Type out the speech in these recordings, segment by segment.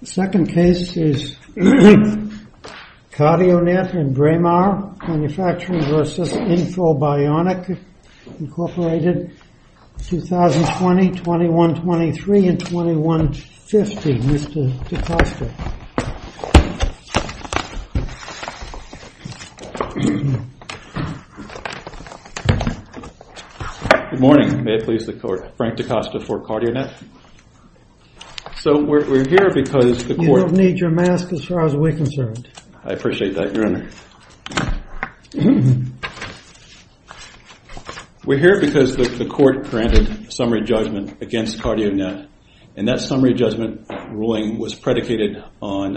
The second case is CardioNet and Braemar Manufacturing v. InfoBionic, Inc., 2020, 2123, and 2150. Mr. DaCosta. Good morning. May it please the Court. Frank DaCosta for CardioNet. You don't need your mask as far as we're concerned. That's not quite true. There was an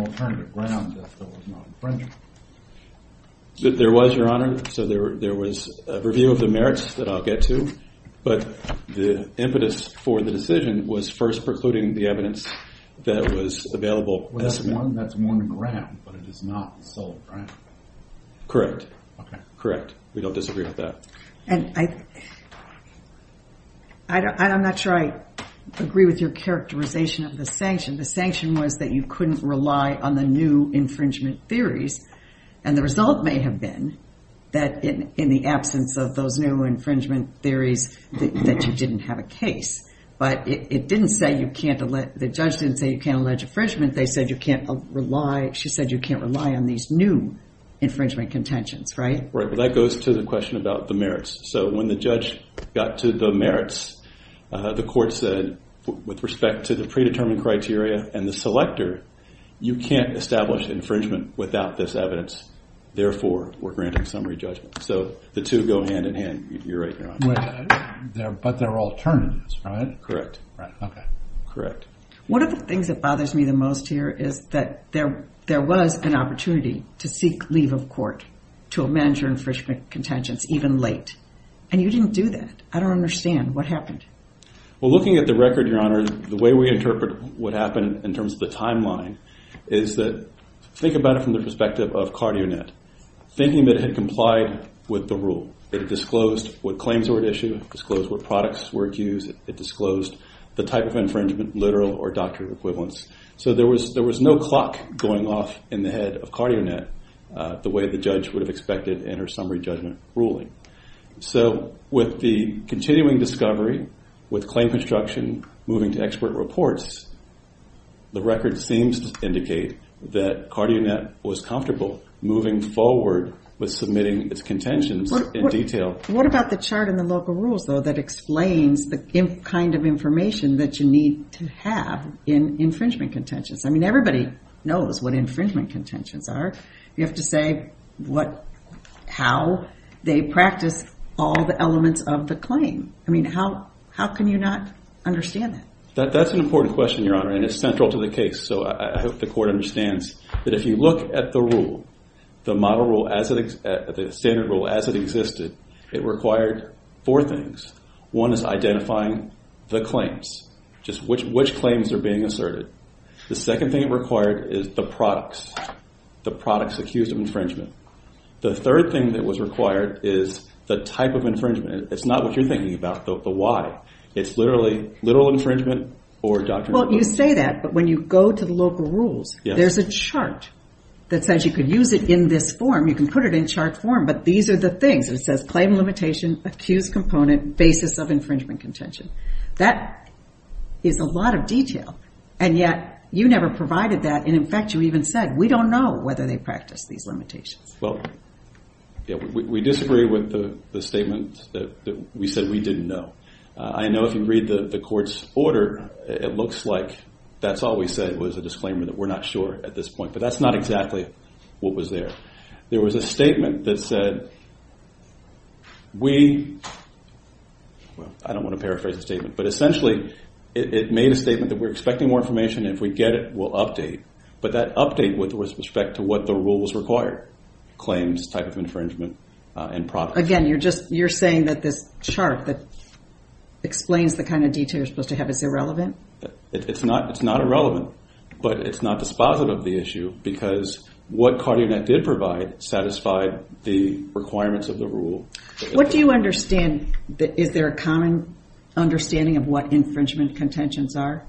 alternative ground that there was no infringement. That's a review of the merits that I'll get to, but the impetus for the decision was first precluding the evidence that was available. Well, that's one ground, but it is not the sole ground. Correct. Correct. We don't disagree with that. And I'm not sure I agree with your characterization of the sanction. The sanction was that you couldn't rely on the new infringement theories. And the result may have been that in the absence of those new infringement theories, that you didn't have a case. But it didn't say you can't – the judge didn't say you can't allege infringement. They said you can't rely – she said you can't rely on these new infringement contentions, right? Right, but that goes to the question about the merits. So when the judge got to the merits, the court said with respect to the predetermined criteria and the selector, you can't establish infringement without this evidence. Therefore, we're granting summary judgment. So the two go hand in hand. You're right, Your Honor. But they're alternatives, right? Correct. Okay. Correct. One of the things that bothers me the most here is that there was an opportunity to seek leave of court to amend your infringement contentions even late. And you didn't do that. I don't understand. What happened? Well, looking at the record, Your Honor, the way we interpret what happened in terms of the timeline is that – think about it from the perspective of CardioNet. Thinking that it had complied with the rule, it disclosed what claims were at issue, disclosed what products were at use. It disclosed the type of infringement, literal or doctor equivalence. So there was no clock going off in the head of CardioNet the way the judge would have expected in her summary judgment ruling. So with the continuing discovery, with claim construction, moving to expert reports, the record seems to indicate that CardioNet was comfortable moving forward with submitting its contentions in detail. What about the chart in the local rules, though, that explains the kind of information that you need to have in infringement contentions? I mean, everybody knows what infringement contentions are. You have to say what – how they practice all the elements of the claim. I mean, how can you not understand that? That's an important question, Your Honor, and it's central to the case. So I hope the court understands that if you look at the rule, the model rule, the standard rule as it existed, it required four things. One is identifying the claims, just which claims are being asserted. The second thing it required is the products, the products accused of infringement. The third thing that was required is the type of infringement. It's not what you're thinking about, the why. It's literally literal infringement or doctor equivalence. Well, you say that, but when you go to the local rules, there's a chart that says you could use it in this form. You can put it in chart form, but these are the things. It says claim limitation, accused component, basis of infringement contention. That is a lot of detail, and yet you never provided that. And, in fact, you even said, we don't know whether they practice these limitations. Well, we disagree with the statement that we said we didn't know. I know if you read the court's order, it looks like that's all we said was a disclaimer that we're not sure at this point, but that's not exactly what was there. There was a statement that said we, well, I don't want to paraphrase the statement, but essentially it made a statement that we're expecting more information. If we get it, we'll update, but that update with respect to what the rules require, claims, type of infringement, and product. Again, you're saying that this chart that explains the kind of detail you're supposed to have is irrelevant? It's not irrelevant, but it's not dispositive of the issue, because what CardioNet did provide satisfied the requirements of the rule. What do you understand? Is there a common understanding of what infringement contentions are?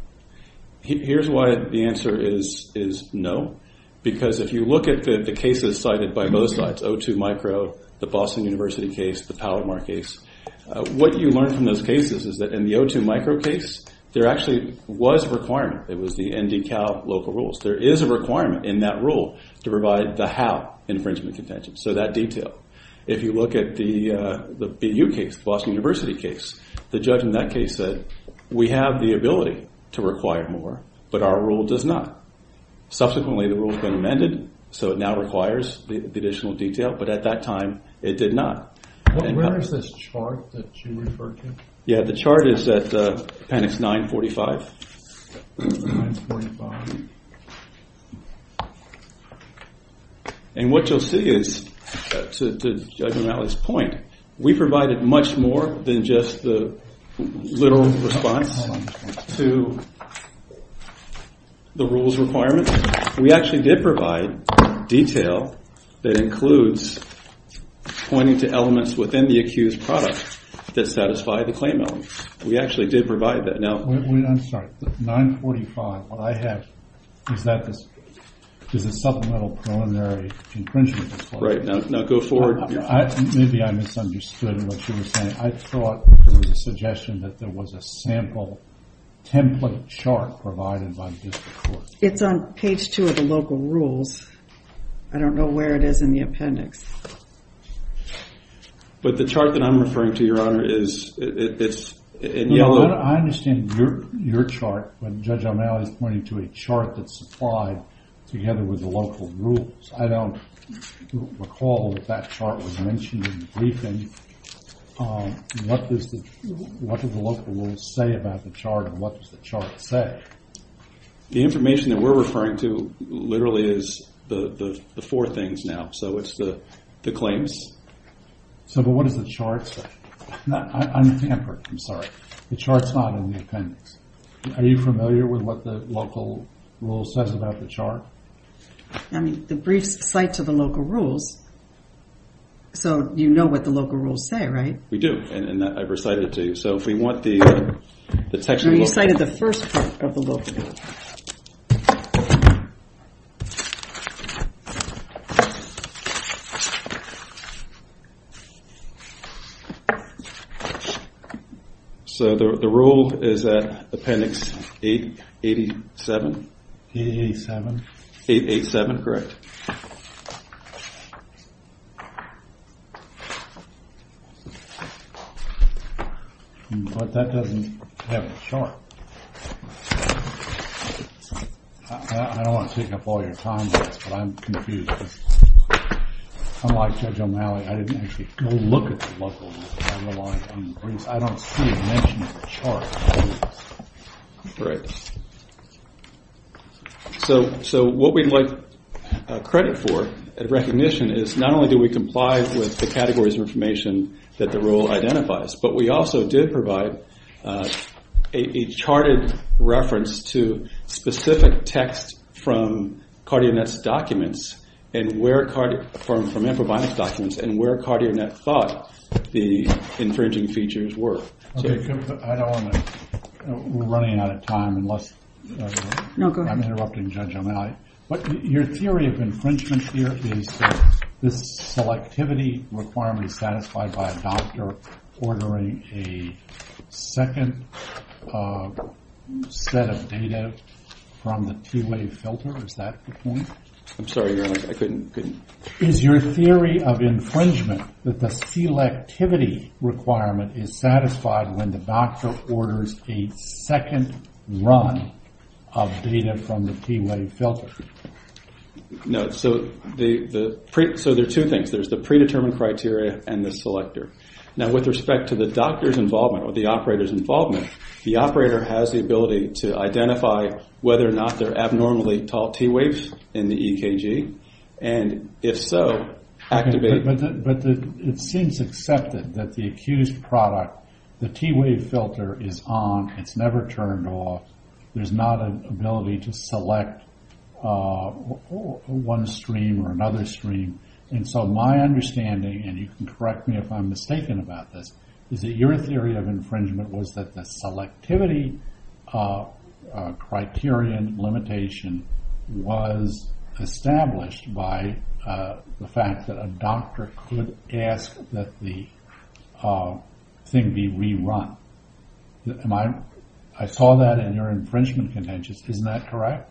Here's why the answer is no, because if you look at the cases cited by both sides, O2 micro, the Boston University case, the Powermart case, what you learn from those cases is that in the O2 micro case, there actually was a requirement. It was the ND-Cal local rules. There is a requirement in that rule to provide the how infringement contentions, so that detail. If you look at the BU case, the Boston University case, the judge in that case said we have the ability to require more, but our rule does not. Subsequently, the rule has been amended, so it now requires the additional detail, but at that time, it did not. Where is this chart that you refer to? Yeah, the chart is at appendix 945. 945. And what you'll see is, to Judge O'Malley's point, we provided much more than just the literal response to the rules requirement. We actually did provide detail that includes pointing to elements within the accused product that satisfy the claim elements. We actually did provide that. I'm sorry, 945. What I have is a supplemental preliminary infringement. Right, now go forward. Maybe I misunderstood what you were saying. I thought there was a suggestion that there was a sample template chart provided by the district court. It's on page 2 of the local rules. I don't know where it is in the appendix. But the chart that I'm referring to, Your Honor, is in yellow. I understand your chart, but Judge O'Malley's pointing to a chart that's supplied together with the local rules. I don't recall that that chart was mentioned in the briefing. What does the local rules say about the chart, and what does the chart say? The information that we're referring to literally is the four things now. So it's the claims. But what does the chart say? I'm tampered, I'm sorry. The chart's not in the appendix. Are you familiar with what the local rule says about the chart? I mean, the briefs cite to the local rules, so you know what the local rules say, right? We do, and I've recited it to you. So if we want the textual book. No, you cited the first part of the local rule. So the rule is at appendix 87? 887. 887, correct. But that doesn't have a chart. I don't want to take up all your time with this, but I'm confused. Unlike Judge O'Malley, I didn't actually look at the local rules. I relied on the briefs. I don't see it mentioned in the chart. Correct. So what we'd like credit for, recognition, is not only do we comply with the categories of information that the rule identifies, but we also did provide a charted reference to specific text from CardioNet's documents and where CardioNet thought the infringing features were. I don't want to, we're running out of time. No, go ahead. I'm interrupting Judge O'Malley. Your theory of infringement here is that this selectivity requirement is satisfied by a doctor ordering a second set of data from the T-Wave filter. Is that the point? I'm sorry, Your Honor, I couldn't. Is your theory of infringement that the selectivity requirement is satisfied when the doctor orders a second run of data from the T-Wave filter? No, so there are two things. There's the predetermined criteria and the selector. Now, with respect to the doctor's involvement or the operator's involvement, the operator has the ability to identify whether or not they're abnormally tall T-Waves in the EKG and, if so, activate it. But it seems accepted that the accused product, the T-Wave filter is on. It's never turned off. There's not an ability to select one stream or another stream. And so my understanding, and you can correct me if I'm mistaken about this, is that your theory of infringement was that the selectivity criterion limitation was established by the fact that a doctor could ask that the thing be rerun. I saw that in your infringement contentions. Isn't that correct?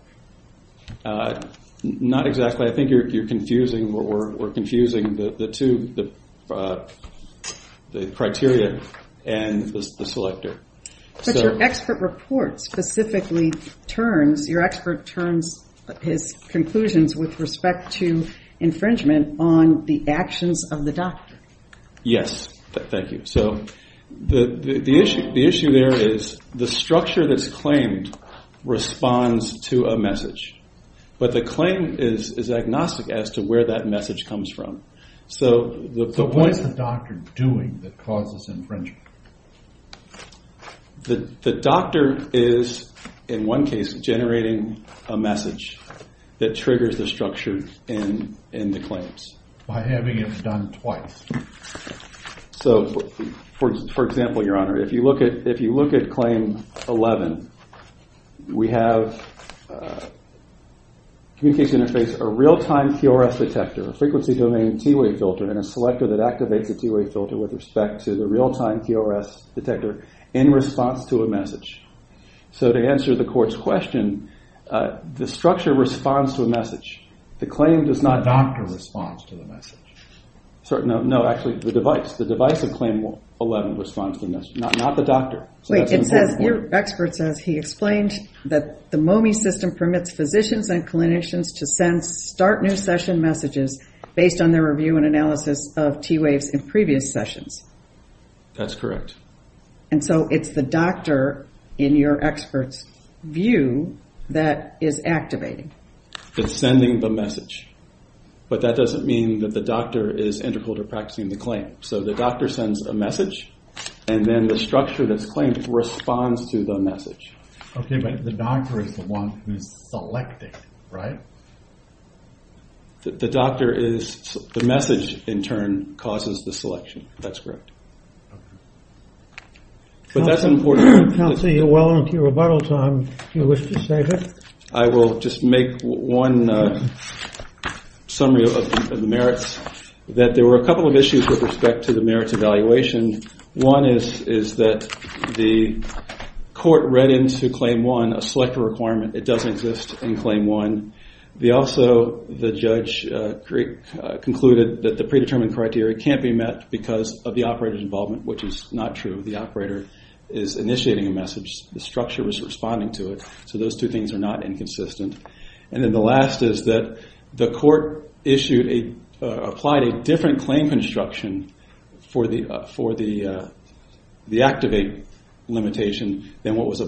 Not exactly. I think you're confusing or confusing the two, the criteria and the selector. But your expert report specifically turns, your expert turns his conclusions with respect to infringement on the actions of the doctor. Yes, thank you. So the issue there is the structure that's claimed responds to a message. But the claim is agnostic as to where that message comes from. So what is the doctor doing that causes infringement? The doctor is, in one case, generating a message that triggers the structure in the claims. By having it done twice. So, for example, Your Honor, if you look at claim 11, we have communication interface, a real-time QRS detector, a frequency domain T-Wave filter, and a selector that activates a T-Wave filter with respect to the real-time QRS detector in response to a message. So to answer the court's question, the structure responds to a message. The claim does not. The doctor responds to the message. No, actually, the device. The device in claim 11 responds to the message, not the doctor. Wait, it says, your expert says he explained that the MOME system permits physicians and clinicians to send start new session messages based on their review and analysis of T-Waves in previous sessions. That's correct. And so it's the doctor, in your expert's view, that is activating. It's sending the message. But that doesn't mean that the doctor is integral to practicing the claim. So the doctor sends a message, and then the structure that's claimed responds to the message. Okay, but the doctor is the one who's selecting, right? The doctor is the message, in turn, causes the selection. That's correct. But that's important. Counsel, you're well into your rebuttal time. Do you wish to save it? I will just make one summary of the merits, that there were a couple of issues with respect to the merits evaluation. One is that the court read into Claim 1 a selector requirement. It doesn't exist in Claim 1. Also, the judge concluded that the predetermined criteria can't be met because of the operator's involvement, which is not true. The operator is initiating a message. The structure is responding to it. So those two things are not inconsistent. And then the last is that the court applied a different claim construction for the activate limitation than what was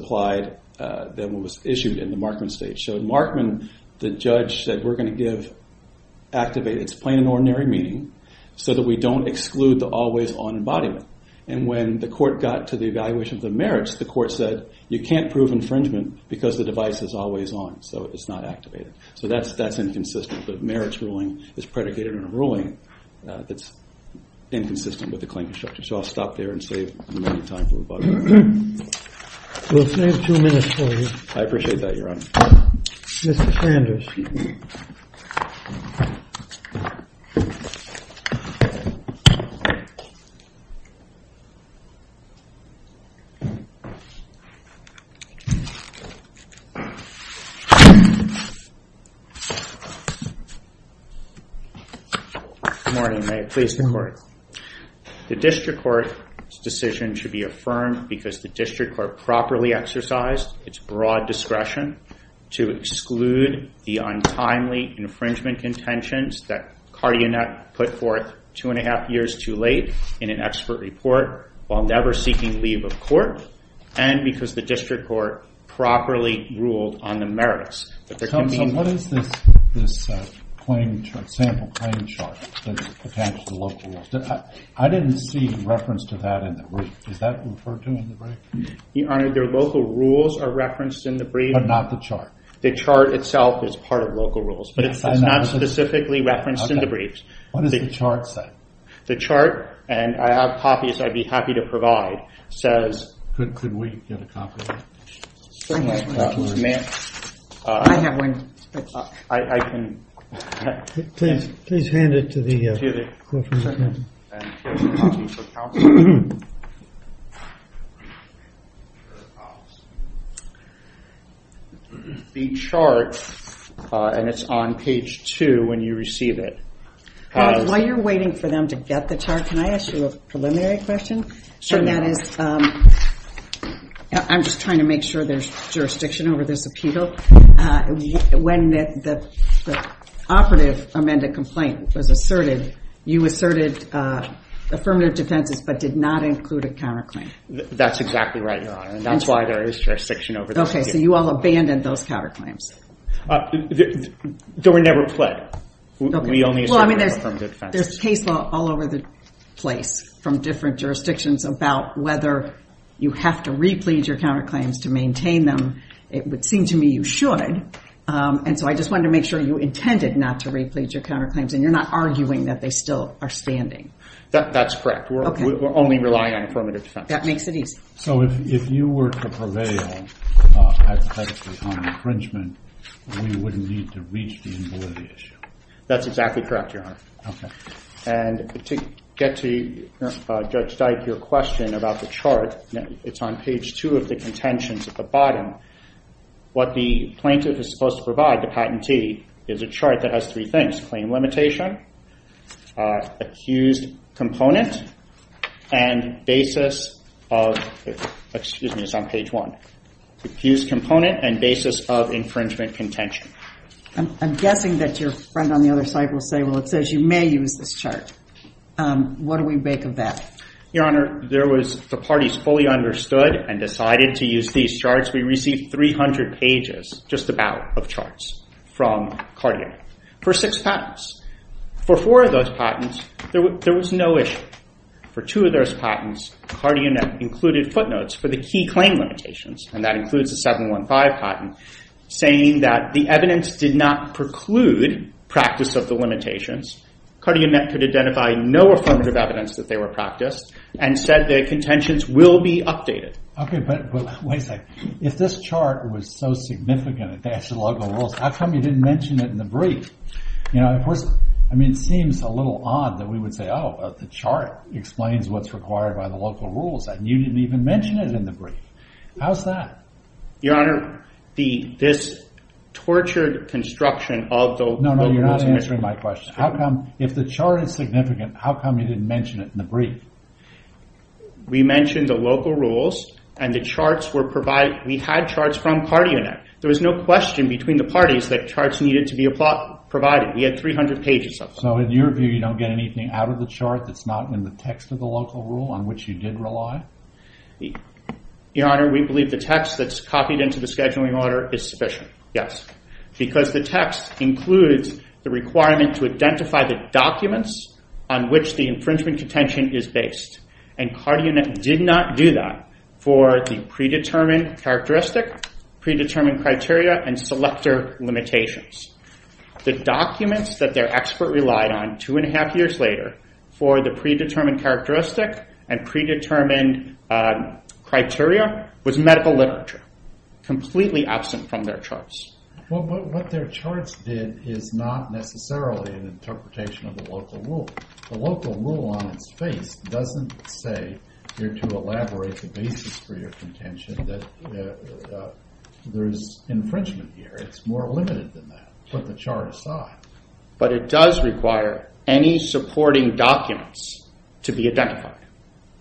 issued in the Markman state. So in Markman, the judge said, we're going to activate its plain and ordinary meaning so that we don't exclude the always-on embodiment. And when the court got to the evaluation of the merits, the court said, you can't prove infringement because the device is always on, so it's not activated. So that's inconsistent. But merits ruling is predicated on a ruling that's inconsistent with the claim construction. So I'll stop there and save the remaining time for rebuttal. We'll save two minutes for you. I appreciate that, Your Honor. Mr. Sanders. Good morning, Mayor. Please, go ahead. The district court's decision should be affirmed because the district court properly exercised its broad discretion to exclude the untimely infringement contentions that Cardionet put forth two and a half years too late in an expert report while never seeking leave of court. And because the district court properly ruled on the merits. What is this sample claim chart that's attached to the local rules? I didn't see reference to that in the brief. Is that referred to in the brief? Your Honor, the local rules are referenced in the brief. But not the chart. The chart itself is part of local rules, but it's not specifically referenced in the brief. What does the chart say? The chart, and I have copies I'd be happy to provide, says, could we get a copy of it? Please hand it to the clerk. The chart, and it's on page two when you receive it. While you're waiting for them to get the chart, can I ask you a preliminary question? Sure, ma'am. I'm just trying to make sure there's jurisdiction over this appeal. When the operative amended complaint was asserted, you asserted affirmative defenses but did not include a counterclaim. That's exactly right, Your Honor. That's why there is jurisdiction over this appeal. Okay, so you all abandoned those counterclaims. They were never pled. We only asserted affirmative defenses. There's case law all over the place from different jurisdictions about whether you have to re-plead your counterclaims to maintain them. It would seem to me you should, and so I just wanted to make sure you intended not to re-plead your counterclaims and you're not arguing that they still are standing. That's correct. We're only relying on affirmative defenses. That makes it easy. So if you were to prevail on infringement, we wouldn't need to reach the invalidity issue. That's exactly correct, Your Honor. And to get to Judge Dyke, your question about the chart, it's on page 2 of the contentions at the bottom. What the plaintiff is supposed to provide, the patentee, is a chart that has three things, claim limitation, accused component, and basis of, excuse me, it's on page 1, accused component and basis of infringement contention. I'm guessing that your friend on the other side will say, well, it says you may use this chart. What do we make of that? Your Honor, there was the parties fully understood and decided to use these charts. We received 300 pages, just about, of charts from CardioNet for six patents. For four of those patents, there was no issue. For two of those patents, CardioNet included footnotes for the key claim limitations, and that includes the 715 patent, saying that the evidence did not preclude practice of the limitations. CardioNet could identify no affirmative evidence that they were practiced and said the contentions will be updated. Okay, but wait a second. If this chart was so significant it matched the local rules, how come you didn't mention it in the brief? I mean, it seems a little odd that we would say, oh, the chart explains what's required by the local rules, and you didn't even mention it in the brief. How's that? Your Honor, this tortured construction of the local rules... No, no, you're not answering my question. If the chart is significant, how come you didn't mention it in the brief? We mentioned the local rules, and the charts were provided... We had charts from CardioNet. There was no question between the parties that charts needed to be provided. We had 300 pages of them. So, in your view, you don't get anything out of the chart that's not in the text of the local rule on which you did rely? Your Honor, we believe the text that's copied into the scheduling order is sufficient. Yes. Because the text includes the requirement to identify the documents on which the infringement contention is based. And CardioNet did not do that for the predetermined characteristic, predetermined criteria, and selector limitations. The documents that their expert relied on two and a half years later for the predetermined characteristic and predetermined criteria was medical literature, completely absent from their charts. What their charts did is not necessarily an interpretation of the local rule. The local rule on its face doesn't say you're to elaborate the basis for your contention that there's infringement here. It's more limited than that. Put the chart aside. But it does require any supporting documents to be identified.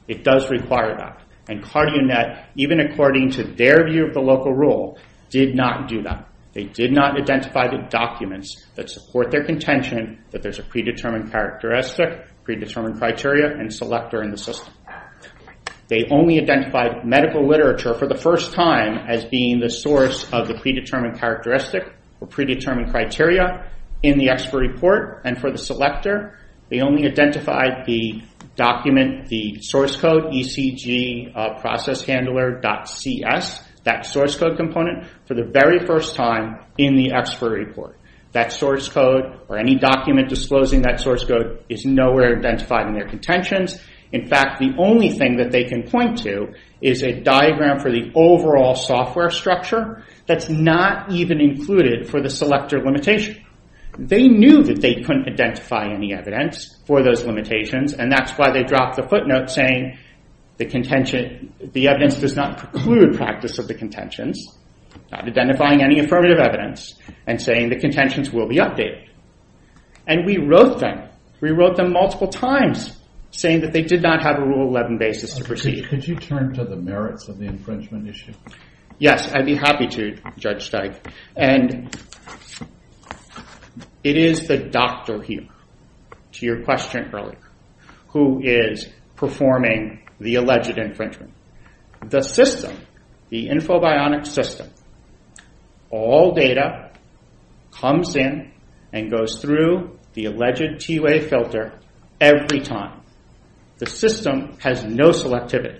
It does require that. And CardioNet, even according to their view of the local rule, did not do that. They did not identify the documents that support their contention that there's a predetermined characteristic, predetermined criteria, and selector in the system. They only identified medical literature for the first time as being the source of the predetermined characteristic or predetermined criteria in the expert report. And for the selector, they only identified the document, the source code, ECGProcessHandler.cs, that source code component, for the very first time in the expert report. That source code or any document disclosing that source code is nowhere identified in their contentions. In fact, the only thing that they can point to is a diagram for the overall software structure that's not even included for the selector limitation. They knew that they couldn't identify any evidence for those limitations, and that's why they dropped the footnote saying the evidence does not preclude practice of the contentions, not identifying any affirmative evidence, and saying the contentions will be updated. And we wrote them. We wrote them multiple times, saying that they did not have a Rule 11 basis to proceed. Could you turn to the merits of the infringement issue? Yes, I'd be happy to, Judge Steig. And it is the doctor here, to your question earlier, who is performing the alleged infringement. The system, the Infobionics system, all data comes in and goes through the alleged TUA filter every time. The system has no selectivity.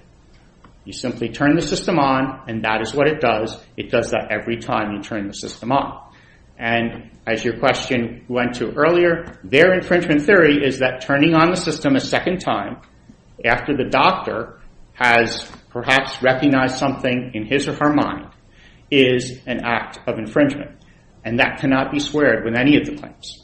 You simply turn the system on, and that is what it does. It does that every time you turn the system on. And as your question went to earlier, their infringement theory is that turning on the system a second time after the doctor has perhaps recognized something in his or her mind is an act of infringement, and that cannot be squared with any of the claims.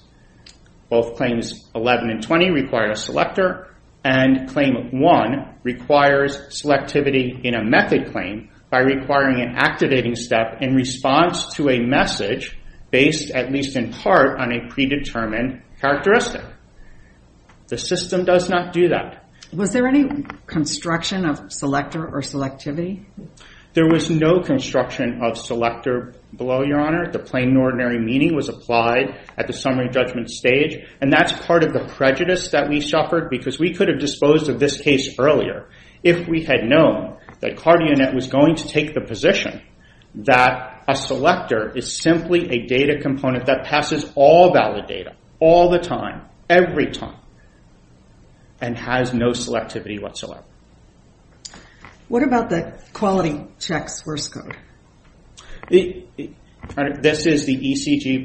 Both Claims 11 and 20 require a selector, and Claim 1 requires selectivity in a method claim by requiring an activating step in response to a message based at least in part on a predetermined characteristic. The system does not do that. Was there any construction of selector or selectivity? There was no construction of selector below, Your Honor. The plain and ordinary meaning was applied at the summary judgment stage, and that's part of the prejudice that we suffered because we could have disposed of this case earlier if we had known that CardioNet was going to take the position that a selector is simply a data component that passes all valid data all the time, every time, and has no selectivity whatsoever. What about the Quality Checks Worst Code? This is the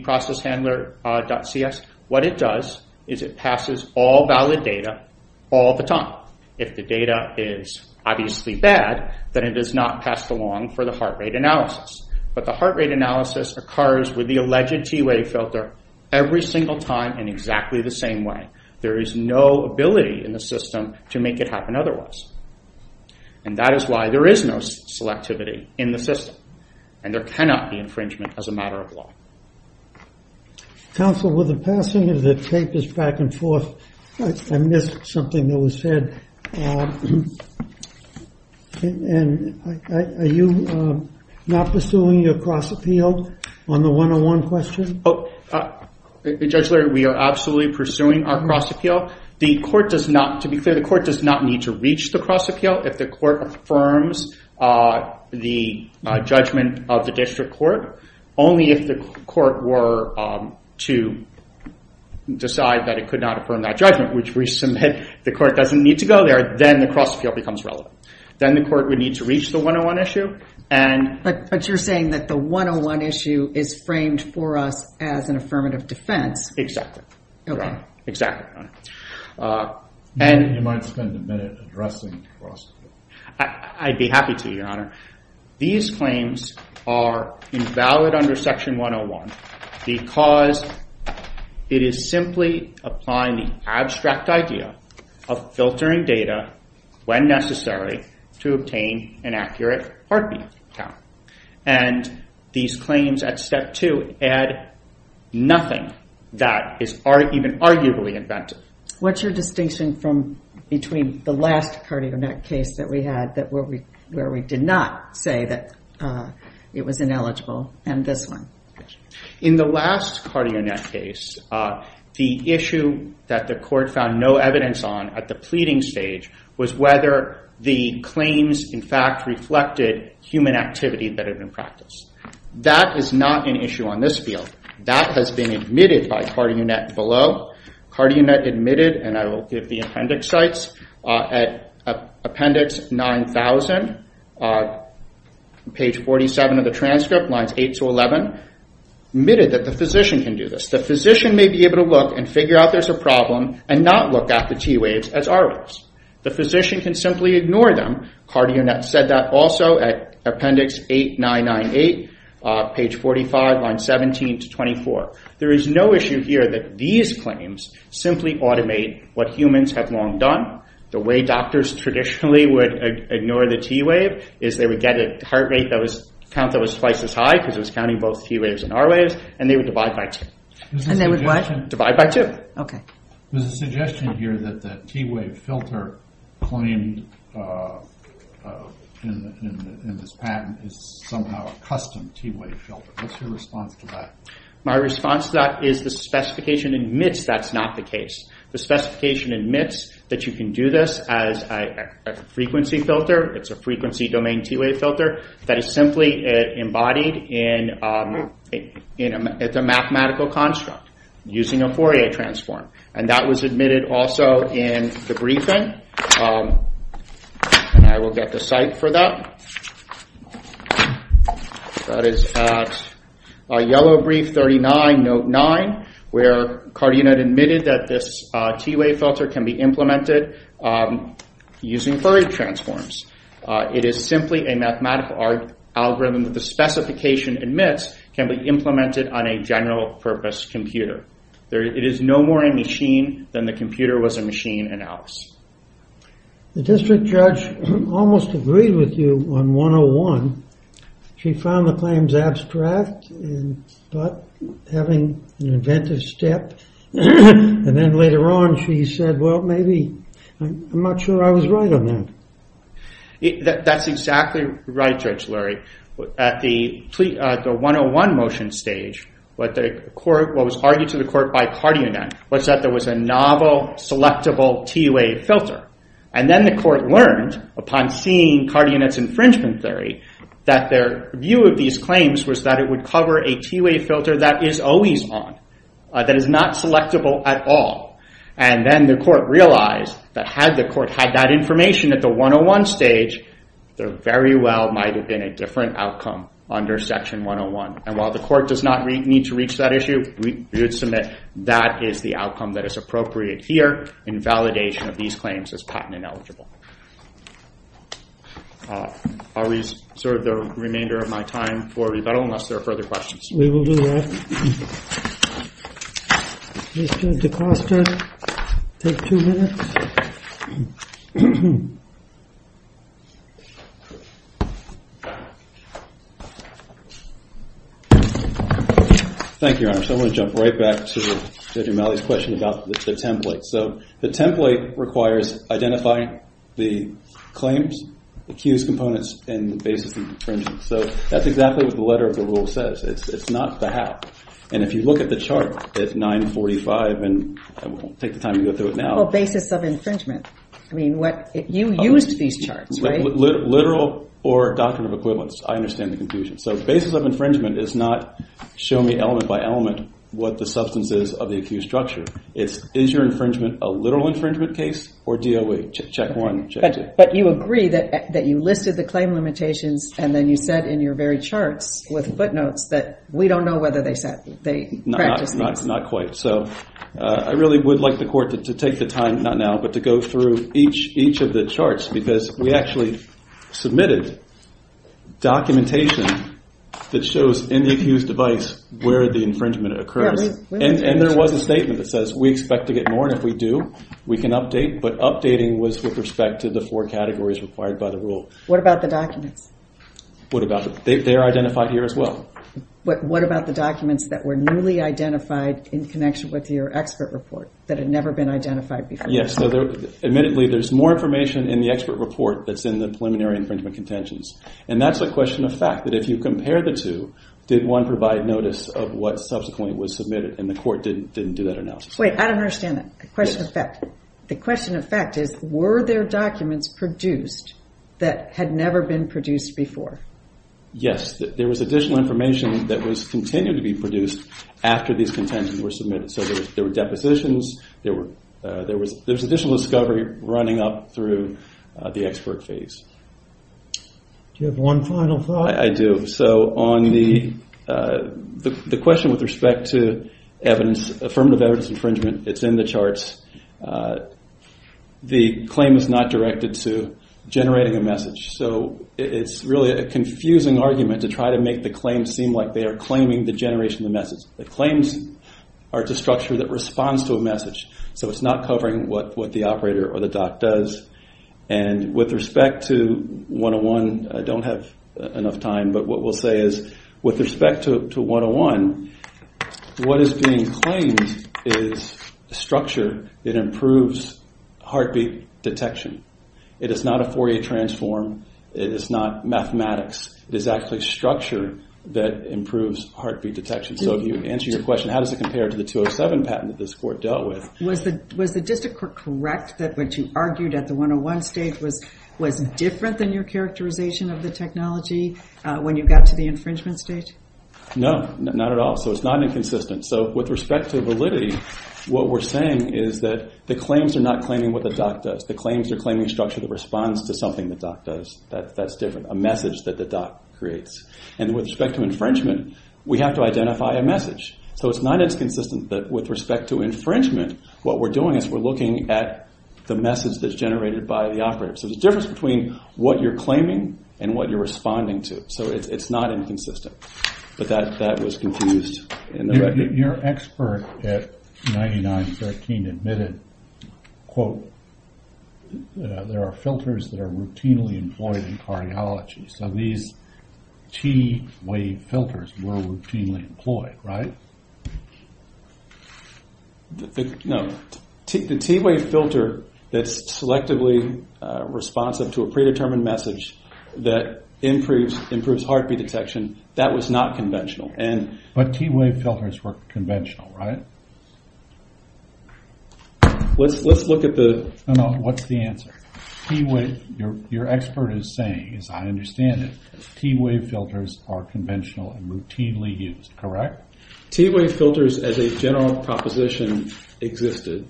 ECGProcessHandler.cs. What it does is it passes all valid data all the time. If the data is obviously bad, then it is not passed along for the heart rate analysis. But the heart rate analysis occurs with the alleged T wave filter every single time in exactly the same way. There is no ability in the system to make it happen otherwise. That is why there is no selectivity in the system, and there cannot be infringement as a matter of law. Counsel, with the passing of the papers back and forth, I missed something that was said. Are you not pursuing your cross-appeal on the 101 question? Judge Larry, we are absolutely pursuing our cross-appeal. To be clear, the court does not need to reach the cross-appeal if the court affirms the judgment of the district court, only if the court were to decide that it could not affirm that judgment, which we submit the court does not need to go there, then the cross-appeal becomes relevant. Then the court would need to reach the 101 issue. But you are saying that the 101 issue is framed for us as an affirmative defense. Exactly. You might spend a minute addressing the cross-appeal. I would be happy to, Your Honor. These claims are invalid under Section 101 because it is simply applying the abstract idea of filtering data when necessary to obtain an accurate heartbeat count. And these claims at Step 2 add nothing that is even arguably invented. What's your distinction between the last cardiac event case that we had where we did not say that it was ineligible and this one? In the last cardio net case, the issue that the court found no evidence on at the pleading stage was whether the claims in fact reflected human activity that had been practiced. That is not an issue on this field. That has been admitted by cardio net below. Cardio net admitted, and I will give the appendix sites, at appendix 9000, page 47 of the transcript, lines 8 to 11, admitted that the physician can do this. The physician may be able to look and figure out there's a problem and not look at the T waves as R waves. The physician can simply ignore them. Cardio net said that also at appendix 8998, page 45, lines 17 to 24. There is no issue here that these claims simply automate what humans have long done. The way doctors traditionally would ignore the T wave is they would get a heart rate count that was twice as high because it was counting both T waves and R waves and they would divide by two. Divide by two? There's a suggestion here that the T wave filter claimed in this patent is somehow a custom T wave filter. What's your response to that? My response to that is the specification admits that's not the case. The specification admits that you can do this as a frequency filter. It's a frequency domain T wave filter that is simply embodied in a mathematical construct using a Fourier transform. That was admitted also in the briefing. I will get the site for that. That is at yellow brief 39, note 9, where Cardio net admitted that this T wave filter can be implemented using Fourier transforms. It is simply a mathematical algorithm that the specification admits can be implemented on a general purpose computer. It is no more a machine than the computer was a machine in Alice. The district judge almost agreed with you on 101. She found the claims abstract but having an inventive step. Then later on she said well maybe I'm not sure I was right on that. That's exactly right Judge Lurie. At the 101 motion stage what was argued to the court by Cardio net was that there was a novel selectable T wave filter. Then the court learned upon seeing Cardio net's infringement theory that their view of these claims was that it would cover a T wave filter that is always on. That is not selectable at all. Then the court realized that had the court had that information at the 101 stage there very well might have been a different outcome under section 101. While the court does not need to reach that issue we would submit that is the outcome that is appropriate here in validation of these claims as patent ineligible. I will reserve the remainder of my time for rebuttal unless there are further questions. We will do that. Mr. DeCosta. Take two minutes. Thank you Your Honor. I want to jump right back to Judge O'Malley's question about the template. The template requires identifying the claims, the accused components and the basis of infringement. That is exactly what the letter of the rule says. It is not the how. If you look at the chart at 945 and I won't take the time to go through it now. Basis of infringement. You used these charts, right? Literal or doctrine of equivalence. I understand the confusion. Basis of infringement is not show me element by element what the substance is of the accused structure. Is your infringement a literal infringement case or DOA? Check one, check two. But you agree that you listed the claim limitations and then you said in your very charts with footnotes that we don't know whether they practice these. Not quite. I really would like the court to take the time, not now, but to go through each of the charts because we actually submitted documentation that shows in the accused device where the infringement occurs. And there was a statement that says we expect to get more and if we do we can update but updating was with respect to the four categories required by the rule. What about the documents? They're identified here as well. What about the documents that were newly identified in connection with your expert report that had never been identified before? Yes. There's more information in the expert report that's in the preliminary infringement contentions. And that's a question of fact, that if you compare the two, did one provide notice of what subsequently was submitted? And the court didn't do that analysis. I don't understand that. The question of fact is were there documents produced that had never been produced before? Yes. There was additional information that was continued to be produced after these contentions were submitted. So there were depositions, there was additional discovery running up through the expert phase. Do you have one final thought? I do. So on the question with respect to affirmative evidence infringement, it's in the charts, the claim is not directed to generating a message. So it's really a confusing argument to try to make the claim seem like they are claiming the generation of the message. The claims are to structure the response to a message. So it's not covering what the operator or the doc does. And with respect to 101, I don't have enough time, but what we'll say is with respect to 101, what is being claimed is structure that improves heartbeat detection. It is not a Fourier transform. It is not mathematics. It is actually structure that improves heartbeat detection. So if you answer your question, how does it compare to the 207 patent that this court dealt with? Was the district correct that what you argued at the 101 stage was different than your characterization of the technology when you got to the infringement stage? No, not at all. So it's not inconsistent. So with respect to validity, what we're saying is that the claims are not claiming what the doc does. The claims are claiming structure that responds to something the doc does. That's different. A message that the doc creates. And with respect to infringement, we have to identify a message. So it's not inconsistent that with respect to infringement, what we're doing is we're looking at the message that's generated by the operator. So there's a difference between what you're claiming and what you're responding to. So it's not inconsistent. But that was confused. Your expert at 9913 admitted quote, there are filters that are routinely employed in cardiology. So these T wave filters were routinely employed, right? No. The T wave filter that's selectively responsive to a predetermined message that improves heartbeat detection, that was not conventional. But T wave filters were conventional, right? Let's look at the... What's the answer? Your expert is saying, as I understand it, T wave filters are conventional and routinely used, correct? T wave filters as a general proposition existed.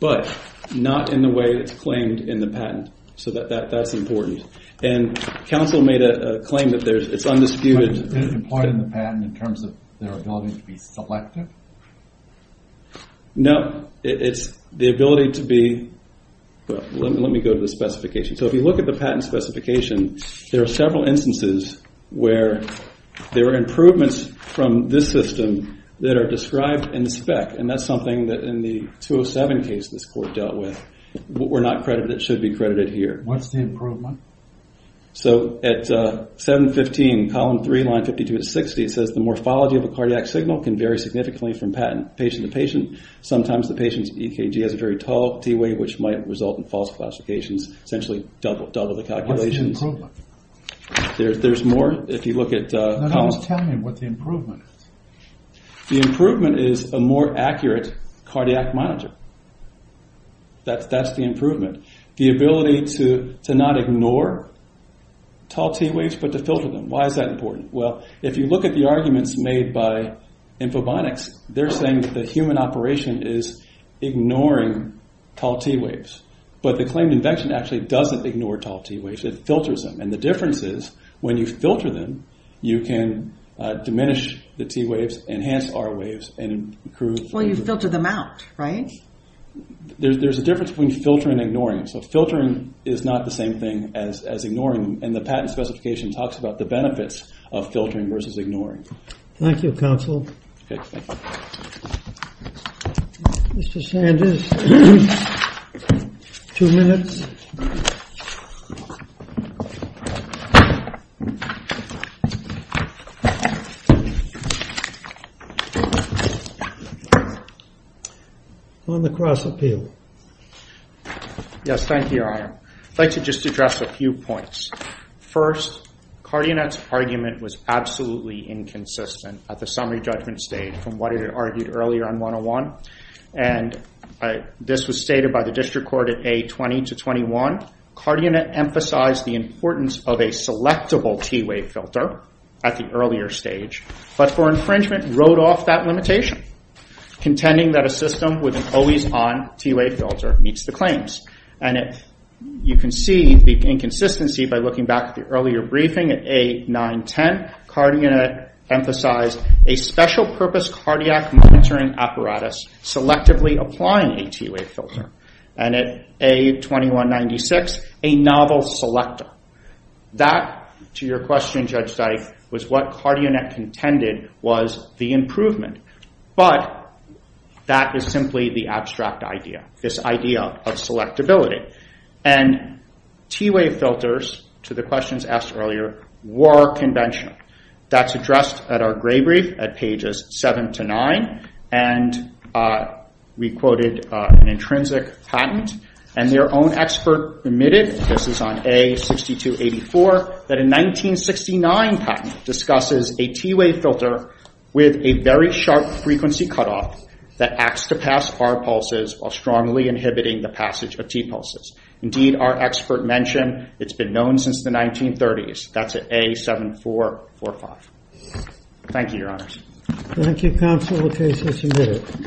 But not in the way it's claimed in the patent. So that's important. And counsel made a claim that it's undisputed... In terms of their ability to be selective? No. It's the ability to be... Let me go to the specification. So if you look at the patent specification, there are several instances where there are improvements from this system that are described in the spec. And that's something that in the 207 case this court dealt with. We're not credited. It should be credited here. What's the improvement? So at 715 column 3, line 52 to 60, it says the morphology of a cardiac signal can vary significantly from patient to patient. Sometimes the patient's EKG has a very tall T wave, which might result in false classifications, essentially double the calculations. What's the improvement? There's more. If you look at... Tell me what the improvement is. The improvement is a more accurate cardiac monitor. That's the improvement. The ability to not ignore tall T waves, but to filter them. Why is that important? Well, if you look at the arguments made by Infobonics, they're saying that the human operation is ignoring tall T waves. But the claimed invention actually doesn't ignore tall T waves. It filters them. And the difference is when you filter them, you can diminish the T waves, enhance R waves, and improve... Well, you filter them out, right? There's a difference between filtering and ignoring. So filtering is not the same thing as ignoring. The patent specification talks about the benefits of filtering versus ignoring. Thank you, counsel. Mr. Sanders, two minutes. On the cross-appeal. Yes, thank you, Your Honor. I'd like to just address a few points. First, Cardionet's argument was absolutely inconsistent at the summary judgment stage from what it argued earlier on 101. And this was stated by the district court at A20-21. Cardionet emphasized the importance of a selectable T wave filter at the earlier stage. But for infringement, Cardionet wrote off that limitation, contending that a system with an always-on T wave filter meets the claims. You can see the inconsistency by looking back at the earlier briefing at A9-10. Cardionet emphasized a special purpose cardiac monitoring apparatus selectively applying a T wave filter. And at A21-96, a novel selector. That, to your question, Judge Dike, was what Cardionet contended was the improvement. But that is simply the abstract idea, this idea of selectability. And T wave filters, to the questions asked earlier, were conventional. That's addressed at our gray brief at pages 7-9. We quoted an intrinsic patent, and their own expert admitted, this is on A62-84, that a 1969 patent discusses a T wave filter with a very sharp frequency cutoff that acts to pass R pulses while strongly inhibiting the passage of T pulses. Indeed, our expert mentioned it's been known since the 1930s. That's at A74-45. Thank you, Your Honors. Thank you, Counsel. Okay, so she did it.